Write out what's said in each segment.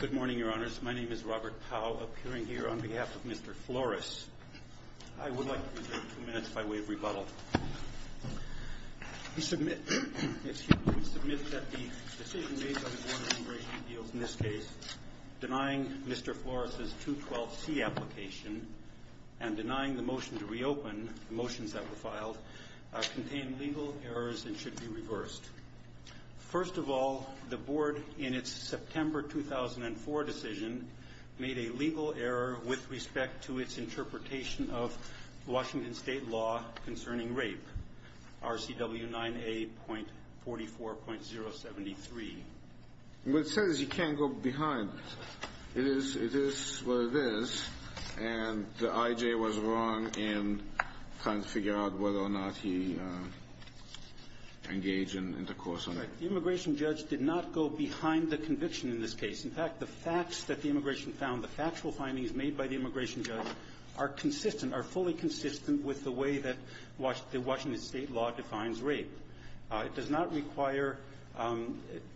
Good morning, Your Honors. My name is Robert Powell, appearing here on behalf of Mr. Flores. I would like to reserve two minutes by way of rebuttal. We submit that the decision made by the Board of Immigration Appeals in this case denying Mr. Flores' 212C application and denying the motion to reopen, the motions that were filed, contain legal errors and should be reversed. First of all, the Board, in its September 2004 decision, made a legal error with respect to its interpretation of Washington State law concerning rape, RCW 9A.44.073. What it says is you can't go behind it. It is what it is, and the I.J. was wrong in trying to figure out whether or not he engaged in intercourse or not. The immigration judge did not go behind the conviction in this case. In fact, the facts that the immigration found, the factual findings made by the immigration judge, are consistent, are fully consistent with the way that Washington State law defines rape. It does not require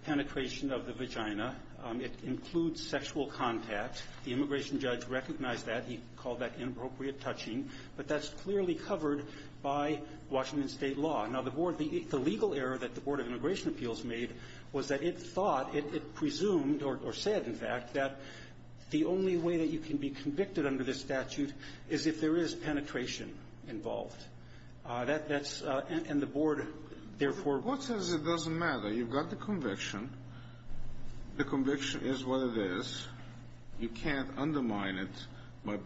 penetration of the vagina. It includes sexual contact. The immigration judge recognized that. He called that inappropriate touching. But that's clearly covered by Washington State law. Now, the Board, the legal error that the Board of Immigration Appeals made was that it thought, it presumed, or said, in fact, that the only way that you can be convicted under this statute is if there is penetration involved. That's — and the Board, therefore — The Board says it doesn't matter. You've got the conviction. The conviction is what it is. You can't undermine it by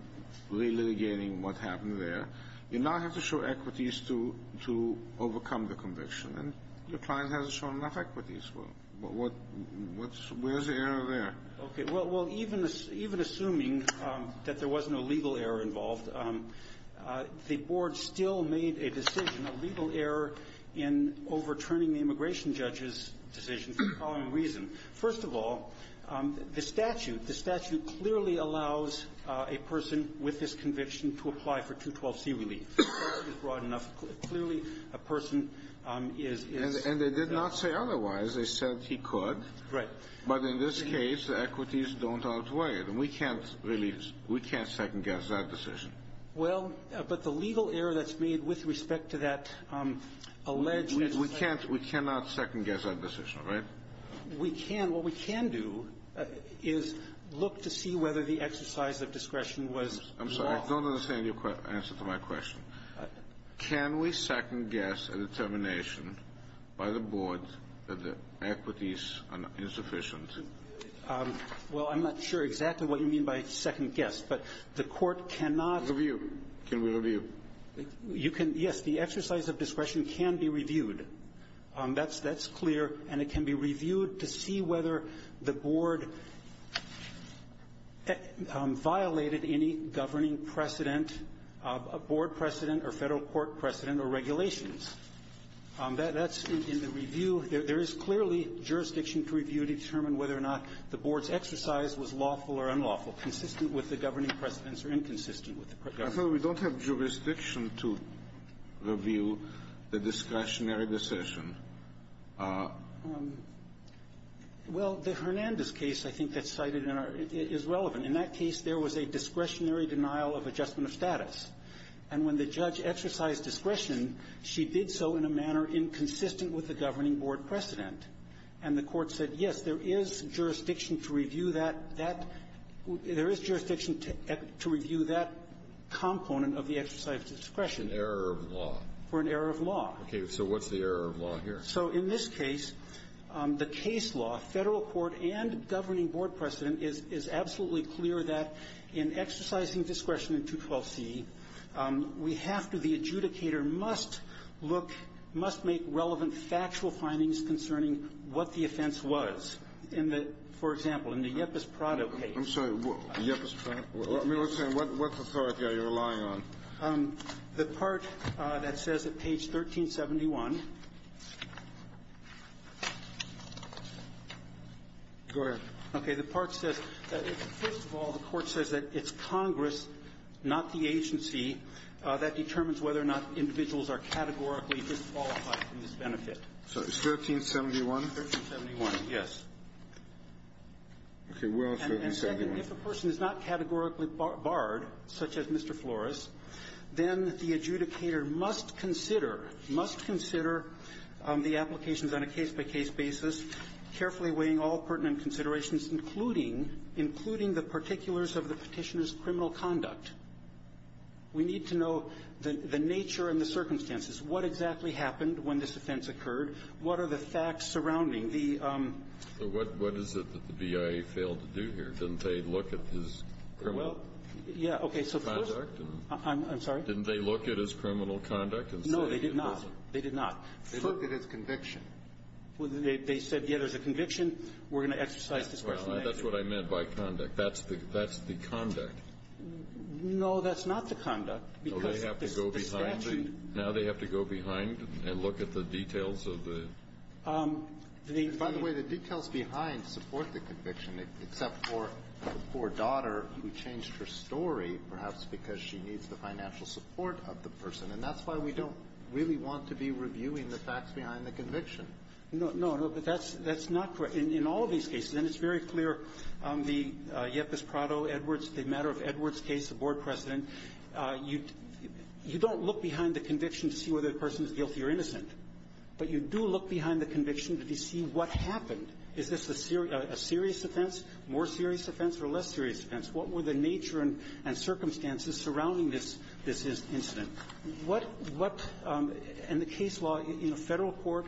re-litigating what happened there. You now have to show equities to — to overcome the conviction. And your client hasn't shown enough equities. What's — where's the error there? Okay. Well, even assuming that there was no legal error involved, the Board still made a decision, a legal error, in overturning the immigration judge's decision for the following reason. First of all, the statute — the statute clearly allows a person with this conviction to apply for 212C relief. The statute is broad enough. Clearly, a person is — And they did not say otherwise. They said he could. Right. But in this case, the equities don't outweigh it. And we can't really — we can't second-guess that decision. Well, but the legal error that's made with respect to that alleged — We can't — we cannot second-guess that decision, right? We can. What we can do is look to see whether the exercise of discretion was wrong. I'm sorry. I don't understand your answer to my question. Can we second-guess a determination by the Board that the equities are insufficient? Well, I'm not sure exactly what you mean by second-guess, but the Court cannot — Review. Can we review? You can — yes, the exercise of discretion can be reviewed. That's clear, and it can be reviewed to see whether the Board violated any governing precedent, a Board precedent or Federal court precedent or regulations. That's in the review. There is clearly jurisdiction to review to determine whether or not the Board's exercise was lawful or unlawful, consistent with the governing precedents or inconsistent with the governing precedents. I thought we don't have jurisdiction to review the discretionary decision. Well, the Hernandez case, I think, that's cited in our — is relevant. In that case, there was a discretionary denial of adjustment of status. And when the judge exercised discretion, she did so in a manner inconsistent with the governing Board precedent. And the Court said, yes, there is jurisdiction to review that — that — there is jurisdiction to review that component of the exercise of discretion. An error of law. For an error of law. Okay. So what's the error of law here? So in this case, the case law, Federal court and governing Board precedent is absolutely clear that in exercising discretion in 212c, we have to — the adjudicator must look — must make relevant factual findings concerning what the offense was. In the — for example, in the Yepis-Prado case. I'm sorry. Yepis-Prado? What authority are you relying on? The part that says at page 1371 — Go ahead. Okay. The part says — first of all, the Court says that it's Congress, not the agency, that determines whether or not individuals are categorically disqualified from this benefit. So it's 1371? 1371, yes. Okay. And second, if a person is not categorically barred, such as Mr. Flores, then the adjudicator must consider — must consider the applications on a case-by-case basis, carefully weighing all pertinent considerations, including — including the particulars of the Petitioner's criminal conduct. We need to know the nature and the circumstances. What exactly happened when this offense occurred? What are the facts surrounding the — So what is it that the BIA failed to do here? Didn't they look at his criminal — Well, yeah. Okay. So first — Conduct? I'm sorry? Didn't they look at his criminal conduct and say it wasn't? No, they did not. They did not. They looked at his conviction. They said, yes, there's a conviction. We're going to exercise discretion. Well, that's what I meant by conduct. That's the — that's the conduct. No, that's not the conduct, because the statute — By the way, the details behind support the conviction, except for the poor daughter who changed her story, perhaps because she needs the financial support of the person. And that's why we don't really want to be reviewing the facts behind the conviction. No. No. No. But that's — that's not correct. In all of these cases, and it's very clear on the Yepis-Prado-Edwards, the matter of Edwards case, the board precedent, you don't look behind the conviction to see whether the person is guilty or innocent. But you do look behind the conviction to see what happened. Is this a serious offense, more serious offense, or less serious offense? What were the nature and circumstances surrounding this — this incident? What — what — and the case law in the Federal court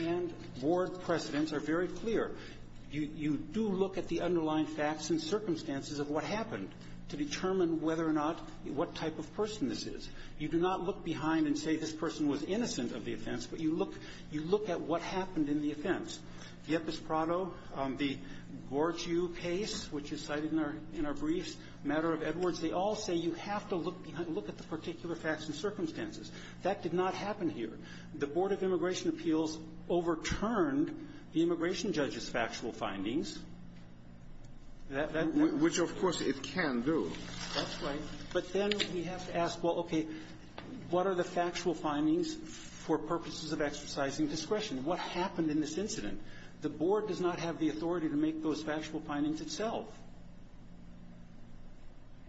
and board precedents are very clear. You do look at the underlying facts and circumstances of what happened to determine whether or not — what type of person this is. You do not look behind and say this person was innocent of the offense, but you look — you look at what happened in the offense. Yepis-Prado, the Gortzue case, which is cited in our — in our briefs, matter of Edwards, they all say you have to look behind — look at the particular facts and circumstances. That did not happen here. The Board of Immigration Appeals overturned the immigration judge's factual findings. That — that — Which, of course, it can do. That's right. But then we have to ask, well, okay, what are the factual findings for purposes of exercising discretion? What happened in this incident? The board does not have the authority to make those factual findings itself.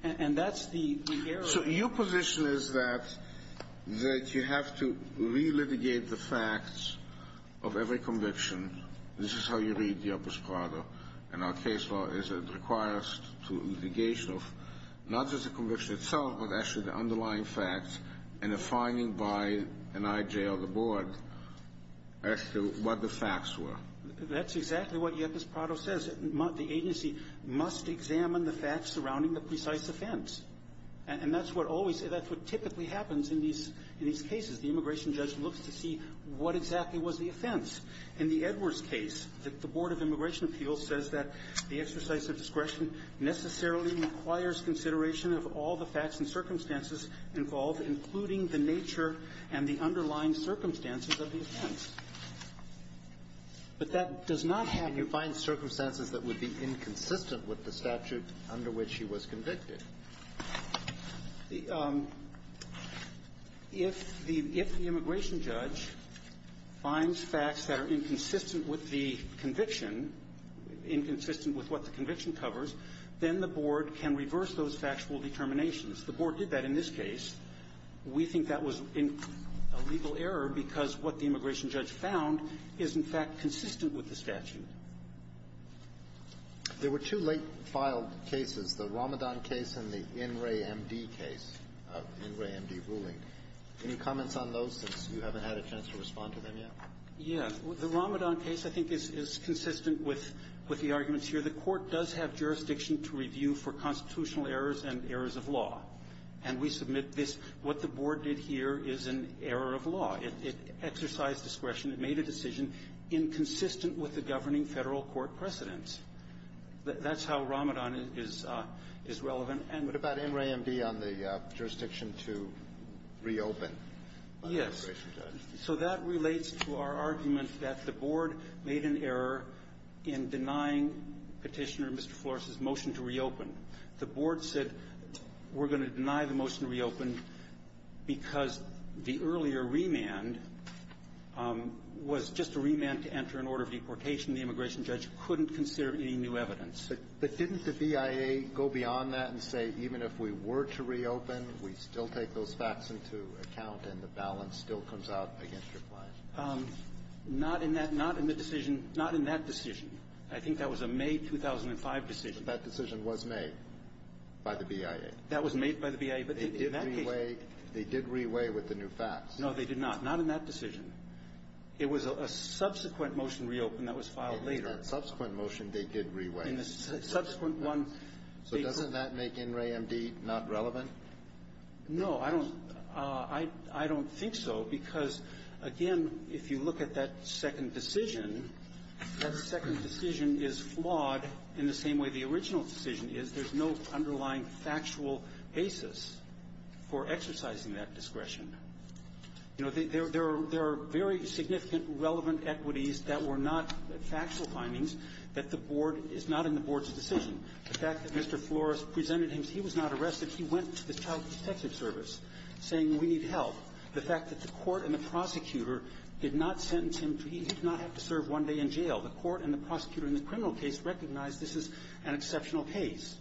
And that's the error. So your position is that — that you have to relitigate the facts of every conviction. This is how you read Yepis-Prado. And our case law is that it requires to litigation of not just the conviction itself, but actually the underlying facts and the finding by an I.J. of the board as to what the facts were. That's exactly what Yepis-Prado says. The agency must examine the facts surrounding the precise offense. And that's what always — that's what typically happens in these — in these cases. The immigration judge looks to see what exactly was the offense. In the Edwards case, the — the Board of Immigration Appeals says that the exercise of discretion necessarily requires consideration of all the facts and circumstances involved, including the nature and the underlying circumstances of the offense. But that does not have — Can you find circumstances that would be inconsistent with the statute under which he was convicted? The — if the — if the immigration judge finds facts that are inconsistent with the conviction, inconsistent with what the conviction covers, then the board can reverse those factual determinations. The board did that in this case. We think that was a legal error because what the immigration judge found is, in fact, consistent with the statute. There were two late-filed cases, the Ramadan case and the In re MD case, In re MD ruling. Any comments on those, since you haven't had a chance to respond to them yet? Yes. The Ramadan case, I think, is consistent with — with the arguments here. The Court does have jurisdiction to review for constitutional errors and errors of law. And we submit this. What the board did here is an error of law. It exercised discretion. It made a decision inconsistent with the governing Federal court precedents. That's how Ramadan is — is relevant. And — What about In re MD on the jurisdiction to reopen by the immigration judge? Yes. So that relates to our argument that the board made an error in denying Petitioner and Mr. Flores' motion to reopen. The board said, we're going to deny the motion to reopen because the earlier remand was just a remand to enter an order of deportation. The immigration judge couldn't consider any new evidence. But didn't the BIA go beyond that and say, even if we were to reopen, we still take those facts into account and the balance still comes out against your plan? Not in that — not in the decision — not in that decision. I think that was a May 2005 decision. But that decision was made by the BIA. That was made by the BIA. But in that case — They did reweigh — they did reweigh with the new facts. No, they did not. Not in that decision. It was a subsequent motion to reopen that was filed later. It was that subsequent motion they did reweigh. In the subsequent one — So doesn't that make In re MD not relevant? No. I don't — I don't think so, because, again, if you look at that second decision, that second decision is flawed in the same way the original decision is. There's no underlying factual basis for exercising that discretion. You know, there are very significant relevant equities that were not factual findings that the Board — is not in the Board's decision. The fact that Mr. Flores presented him as he was not arrested, he went to the Child Protective Service saying, we need help. The fact that the court and the prosecutor did not sentence him to — he did not have to serve one day in jail. The court and the prosecutor in the criminal case recognized this is an exceptional case.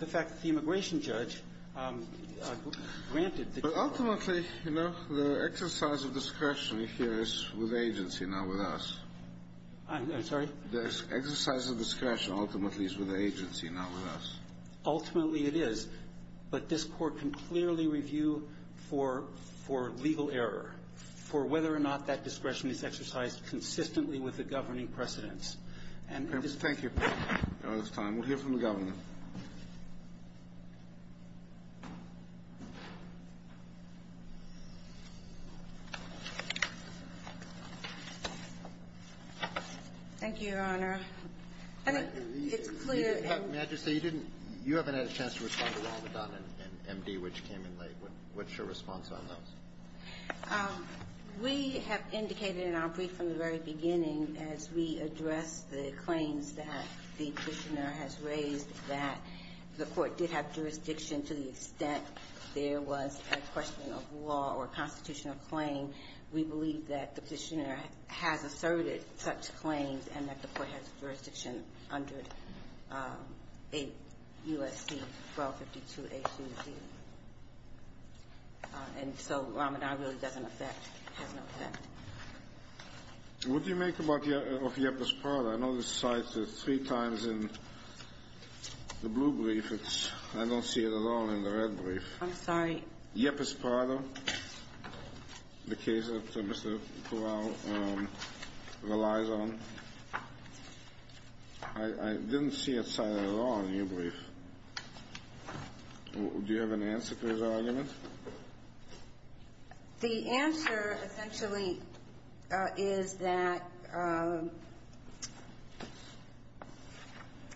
The fact that the immigration judge granted the — But ultimately, you know, the exercise of discretion here is with the agency, not with us. I'm sorry? The exercise of discretion ultimately is with the agency, not with us. Ultimately, it is. But this Court can clearly review for — for legal error, for whether or not that has any precedence. Thank you. We'll hear from the Governor. Thank you, Your Honor. I think it's clear. May I just say, you didn't — you haven't had a chance to respond to Ronald McDonald and M.D., which came in late. What's your response on those? We have indicated in our brief from the very beginning, as we address the claims that the Petitioner has raised, that the court did have jurisdiction to the extent there was a question of law or constitutional claim. We believe that the Petitioner has asserted such claims and that the court has jurisdiction under 8 U.S.C. 1252a2c. And so, Ramanan really doesn't affect — has no effect. What do you make about — of Yepis Prada? I know this cited three times in the blue brief. It's — I don't see it at all in the red brief. I'm sorry? Yepis Prada, the case that Mr. Corral relies on, I didn't see it cited at all in your brief. Do you have an answer to his argument? The answer, essentially, is that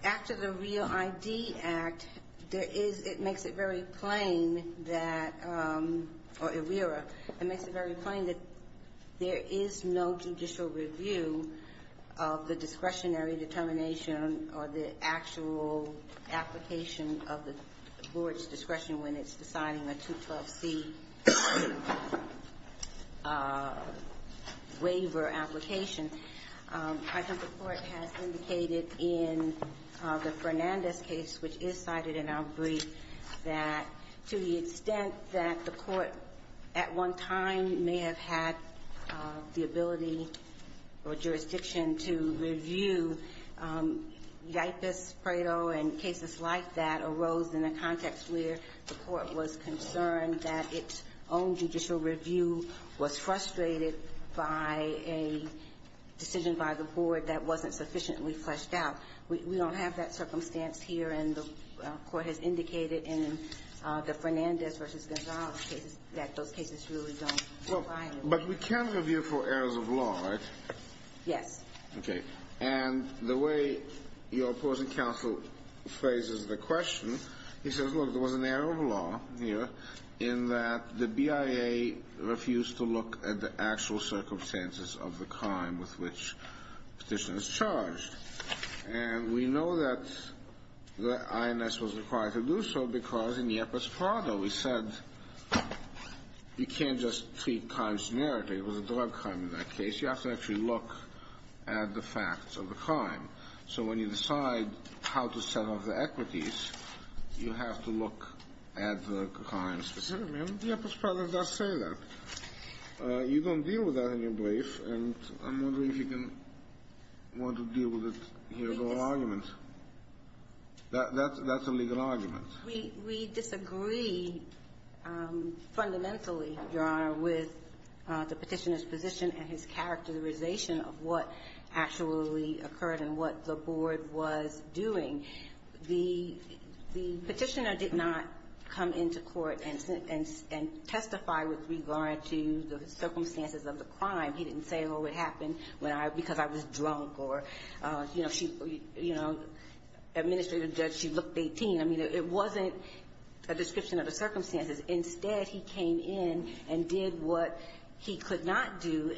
after the REAL ID Act, there is — it makes it very plain that — or IRERA. It makes it very plain that there is no judicial review of the discretionary determination or the actual application of the board's discretion when it's deciding a 212c waiver application. I think the court has indicated in the Fernandez case, which is cited in our brief, that to the extent that the court at one time may have had the ability or jurisdiction to review Yepis Prada and cases like that arose in a context where the court was concerned that its own judicial review was frustrated by a decision by the board that wasn't sufficiently fleshed out. We don't have that circumstance here. And the court has indicated in the Fernandez v. Gonzales cases that those cases really don't lie. But we can review for errors of law, right? Yes. Okay. And the way your opposing counsel phrases the question, he says, look, there was an error of law here in that the BIA refused to look at the actual circumstances of the crime with which the petition is charged. And we know that the INS was required to do so because in Yepis Prada we said you can't just treat crimes generically. It was a drug crime in that case. You have to actually look at the facts of the crime. So when you decide how to set up the equities, you have to look at the crime specifically. Yepis Prada does say that. You don't deal with that in your brief, and I'm wondering if you can want to deal with it here as an argument. That's a legal argument. We disagree fundamentally, Your Honor, with the petitioner's position and his character realization of what actually occurred and what the board was doing. The petitioner did not come into court and testify with regard to the circumstances of the crime. He didn't say, oh, it happened because I was drunk or, you know, she, you know, administrative judge, she looked 18. I mean, it wasn't a description of the circumstances. Instead, he came in and did what he could not do,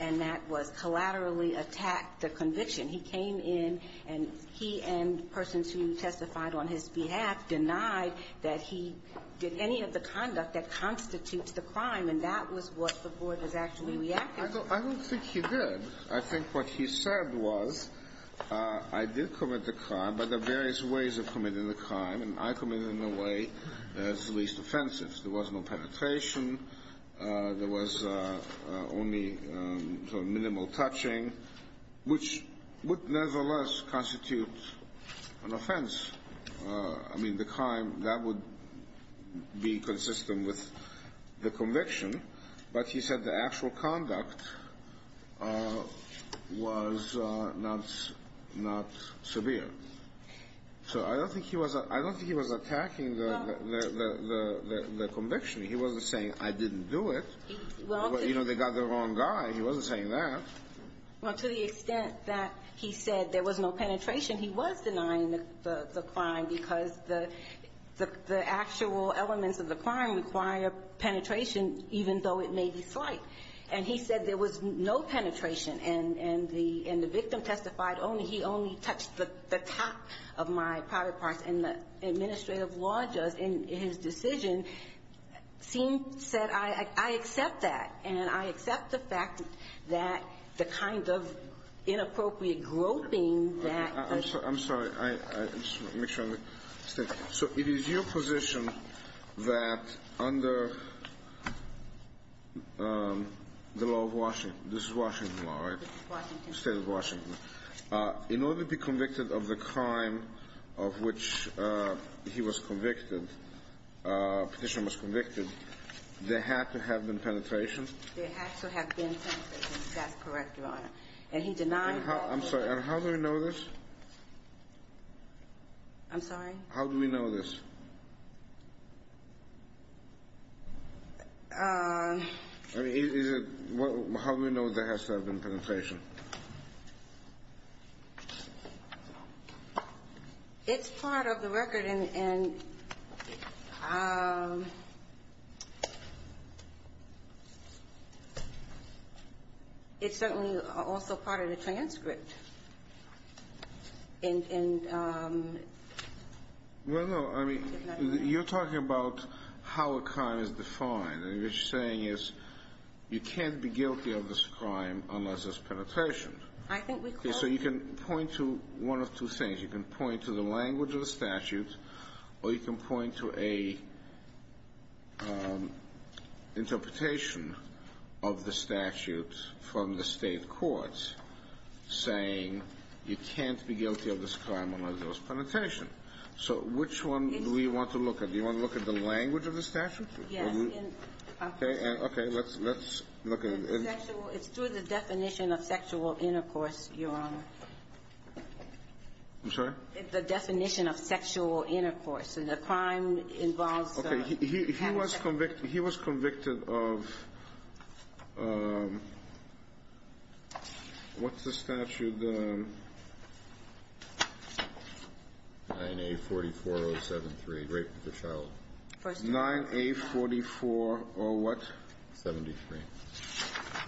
and that was collaterally attack the conviction. He came in and he and persons who testified on his behalf denied that he did any of the conduct that constitutes the crime, and that was what the board was actually reacting to. I don't think he did. I think what he said was, I did commit the crime, but there are various ways of committing the crime, and I committed in a way that's least offensive. There was no penetration. There was only minimal touching, which would nevertheless constitute an offense. I mean, the crime, that would be consistent with the conviction, but he said the actual conduct was not severe. So I don't think he was attacking the conviction. He wasn't saying, I didn't do it. You know, they got the wrong guy. He wasn't saying that. Well, to the extent that he said there was no penetration, he was denying the crime because the actual elements of the crime require penetration, even though it may be slight. And he said there was no penetration, and the victim testified only he only touched the top of my private parts. And the administrative law judge, in his decision, seemed to have said, I accept that, and I accept the fact that the kind of inappropriate groping that the ---- I'm sorry. I just want to make sure I understand. So it is your position that under the law of Washington, this is Washington law, right? This is Washington. State of Washington. In order to be convicted of the crime of which he was convicted, petitioner was convicted, there had to have been penetration? There had to have been penetration. That's correct, Your Honor. And he denied that. I'm sorry. And how do we know this? I'm sorry? How do we know this? I mean, is it ---- how do we know there has to have been penetration? It's part of the record, and it's certainly also part of the transcript. Well, no. I mean, you're talking about how a crime is defined. And what you're saying is you can't be guilty of this crime unless there's penetration. I think we could. Okay. So you can point to one of two things. You can point to the language of the statute, or you can point to a interpretation of the statute from the State courts saying you can't be guilty of this crime unless there was penetration. So which one do we want to look at? Do you want to look at the language of the statute? Yes. Okay. Okay. Let's look at it. It's through the definition of sexual intercourse, Your Honor. I'm sorry? The definition of sexual intercourse. And the crime involves ---- Okay. He was convicted of ---- what's the statute? 9A44073, rape of a child. 9A44 or what? 73.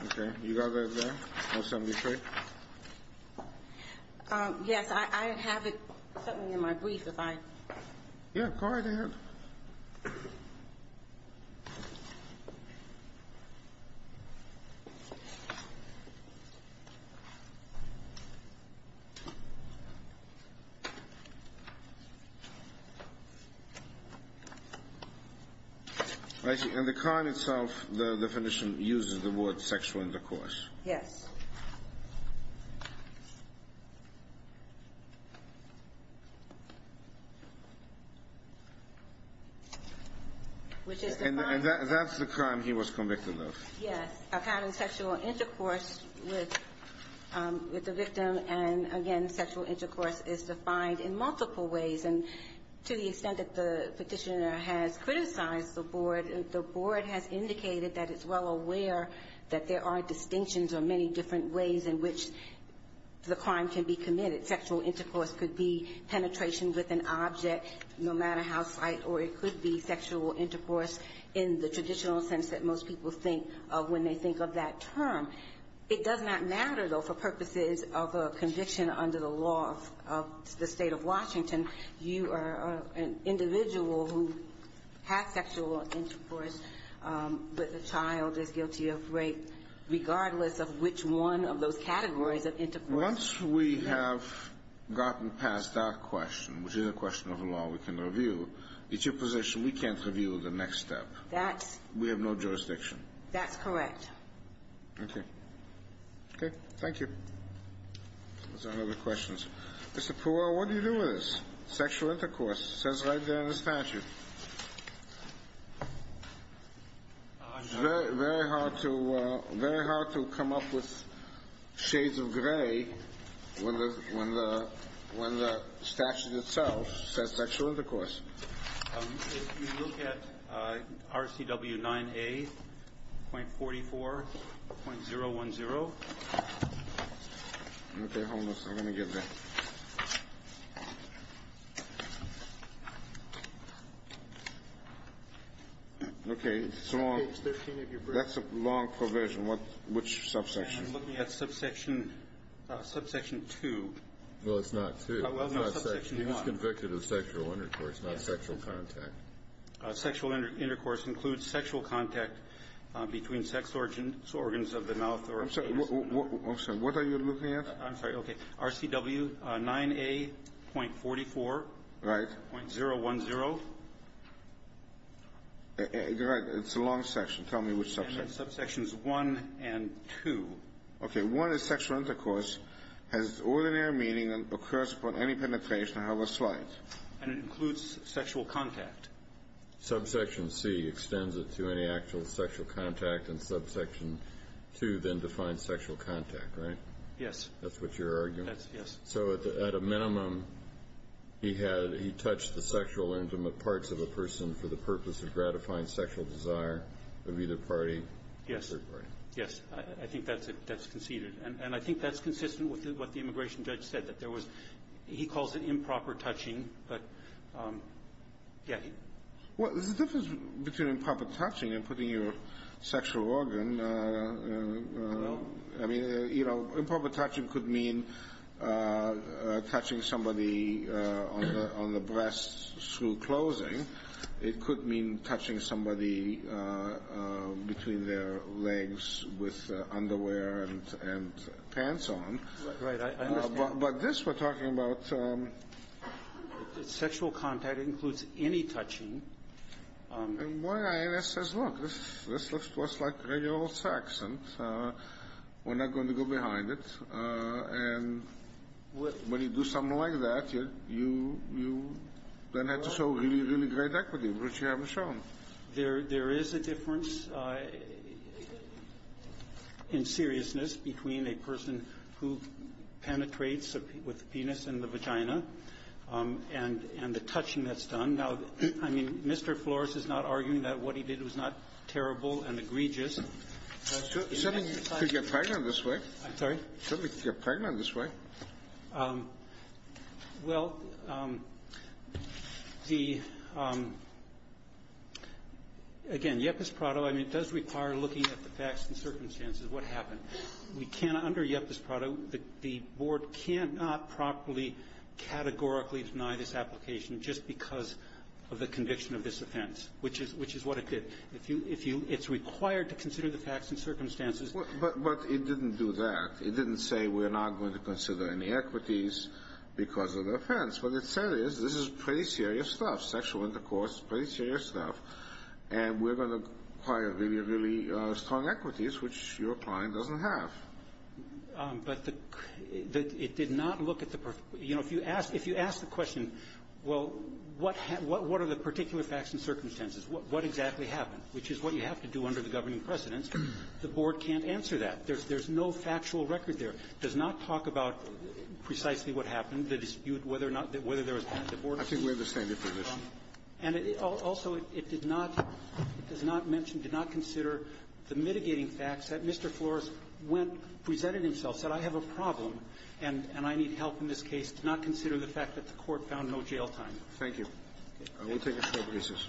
Okay. You got that there? Or 73? Yes. I have something in my brief if I ---- Yeah. Go right ahead. In the crime itself, the definition uses the word sexual intercourse. Yes. Which is defined ---- And that's the crime he was convicted of. Yes. A pattern of sexual intercourse with the victim and, again, sexual intercourse is defined in multiple ways. And to the extent that the Petitioner has criticized the Board, the Board has indicated that it's well aware that there are distinctions or many different ways in which the crime can be committed. Sexual intercourse could be penetration with an object, no matter how slight, or it could be sexual intercourse in the traditional sense that most people think of when they think of that term. It does not matter, though, for purposes of a conviction under the law of the State of guilty of rape, regardless of which one of those categories of intercourse ---- Once we have gotten past that question, which is a question of a law we can review, it's your position we can't review the next step. That's ---- We have no jurisdiction. That's correct. Okay. Okay. Thank you. Are there any other questions? Mr. Peral, what do you do with this? Sexual intercourse. It says right there in the statute. It's very hard to come up with shades of gray when the statute itself says sexual intercourse. If you look at RCW 9A.44.010 ---- Okay, hold on a second. Let me get that. Okay. It's long. That's a long provision. Which subsection? I'm looking at subsection 2. Well, it's not 2. Well, no, subsection 1. He was convicted of sexual intercourse, not sexual contact. Sexual intercourse includes sexual contact between sex organs of the mouth or ---- I'm sorry. What are you looking at? I'm sorry. Okay. RCW 9A.44. Right. .010. Right. It's a long section. Tell me which subsection. Subsections 1 and 2. Okay. 1 is sexual intercourse, has ordinary meaning and occurs upon any penetration. I have a slide. And it includes sexual contact. Subsection C extends it to any actual sexual contact, and subsection 2 then defines sexual contact, right? Yes. That's what you're arguing. Yes. So at a minimum, he had ---- he touched the sexual intimate parts of a person for the purpose of gratifying sexual desire of either party. Yes. Yes. I think that's conceded. And I think that's consistent with what the immigration judge said, that there was ---- he calls it improper touching. But, yeah. Well, there's a difference between improper touching and putting your sexual organ ---- I don't know. I mean, you know, improper touching could mean touching somebody on the breast through closing. It could mean touching somebody between their legs with underwear and pants on. Right. I understand. But this we're talking about. Sexual contact includes any touching. And why I ask is, look, this looks just like regular old sex, and we're not going to go behind it. And when you do something like that, you then have to show really, really great equity, which you haven't shown. There is a difference in seriousness between a person who penetrates with the penis and the vagina and the touching that's done. Now, I mean, Mr. Flores is not arguing that what he did was not terrible and egregious. Somebody could get pregnant this way. I'm sorry? Somebody could get pregnant this way. Well, the ---- again, Yepis Prado, I mean, it does require looking at the facts and circumstances, what happened. We can't under Yepis Prado. The board cannot properly categorically deny this application just because of the conviction of this offense, which is what it did. If you ---- it's required to consider the facts and circumstances. But it didn't do that. It didn't say we're not going to consider any equities because of the offense. What it said is this is pretty serious stuff, sexual intercourse, pretty serious stuff, and we're going to require really, really strong equities, which your client doesn't have. But the ---- it did not look at the ---- you know, if you ask the question, well, what are the particular facts and circumstances, what exactly happened, which is what you have to do under the governing precedents, the board can't answer that. There's no factual record there. It does not talk about precisely what happened, the dispute, whether or not ---- I think we understand the position. And also, it did not ---- it does not mention, did not consider the mitigating facts that Mr. Flores went ---- presented himself, said I have a problem and I need help in this case, did not consider the fact that the court found no jail time. Thank you. We'll take a short recess.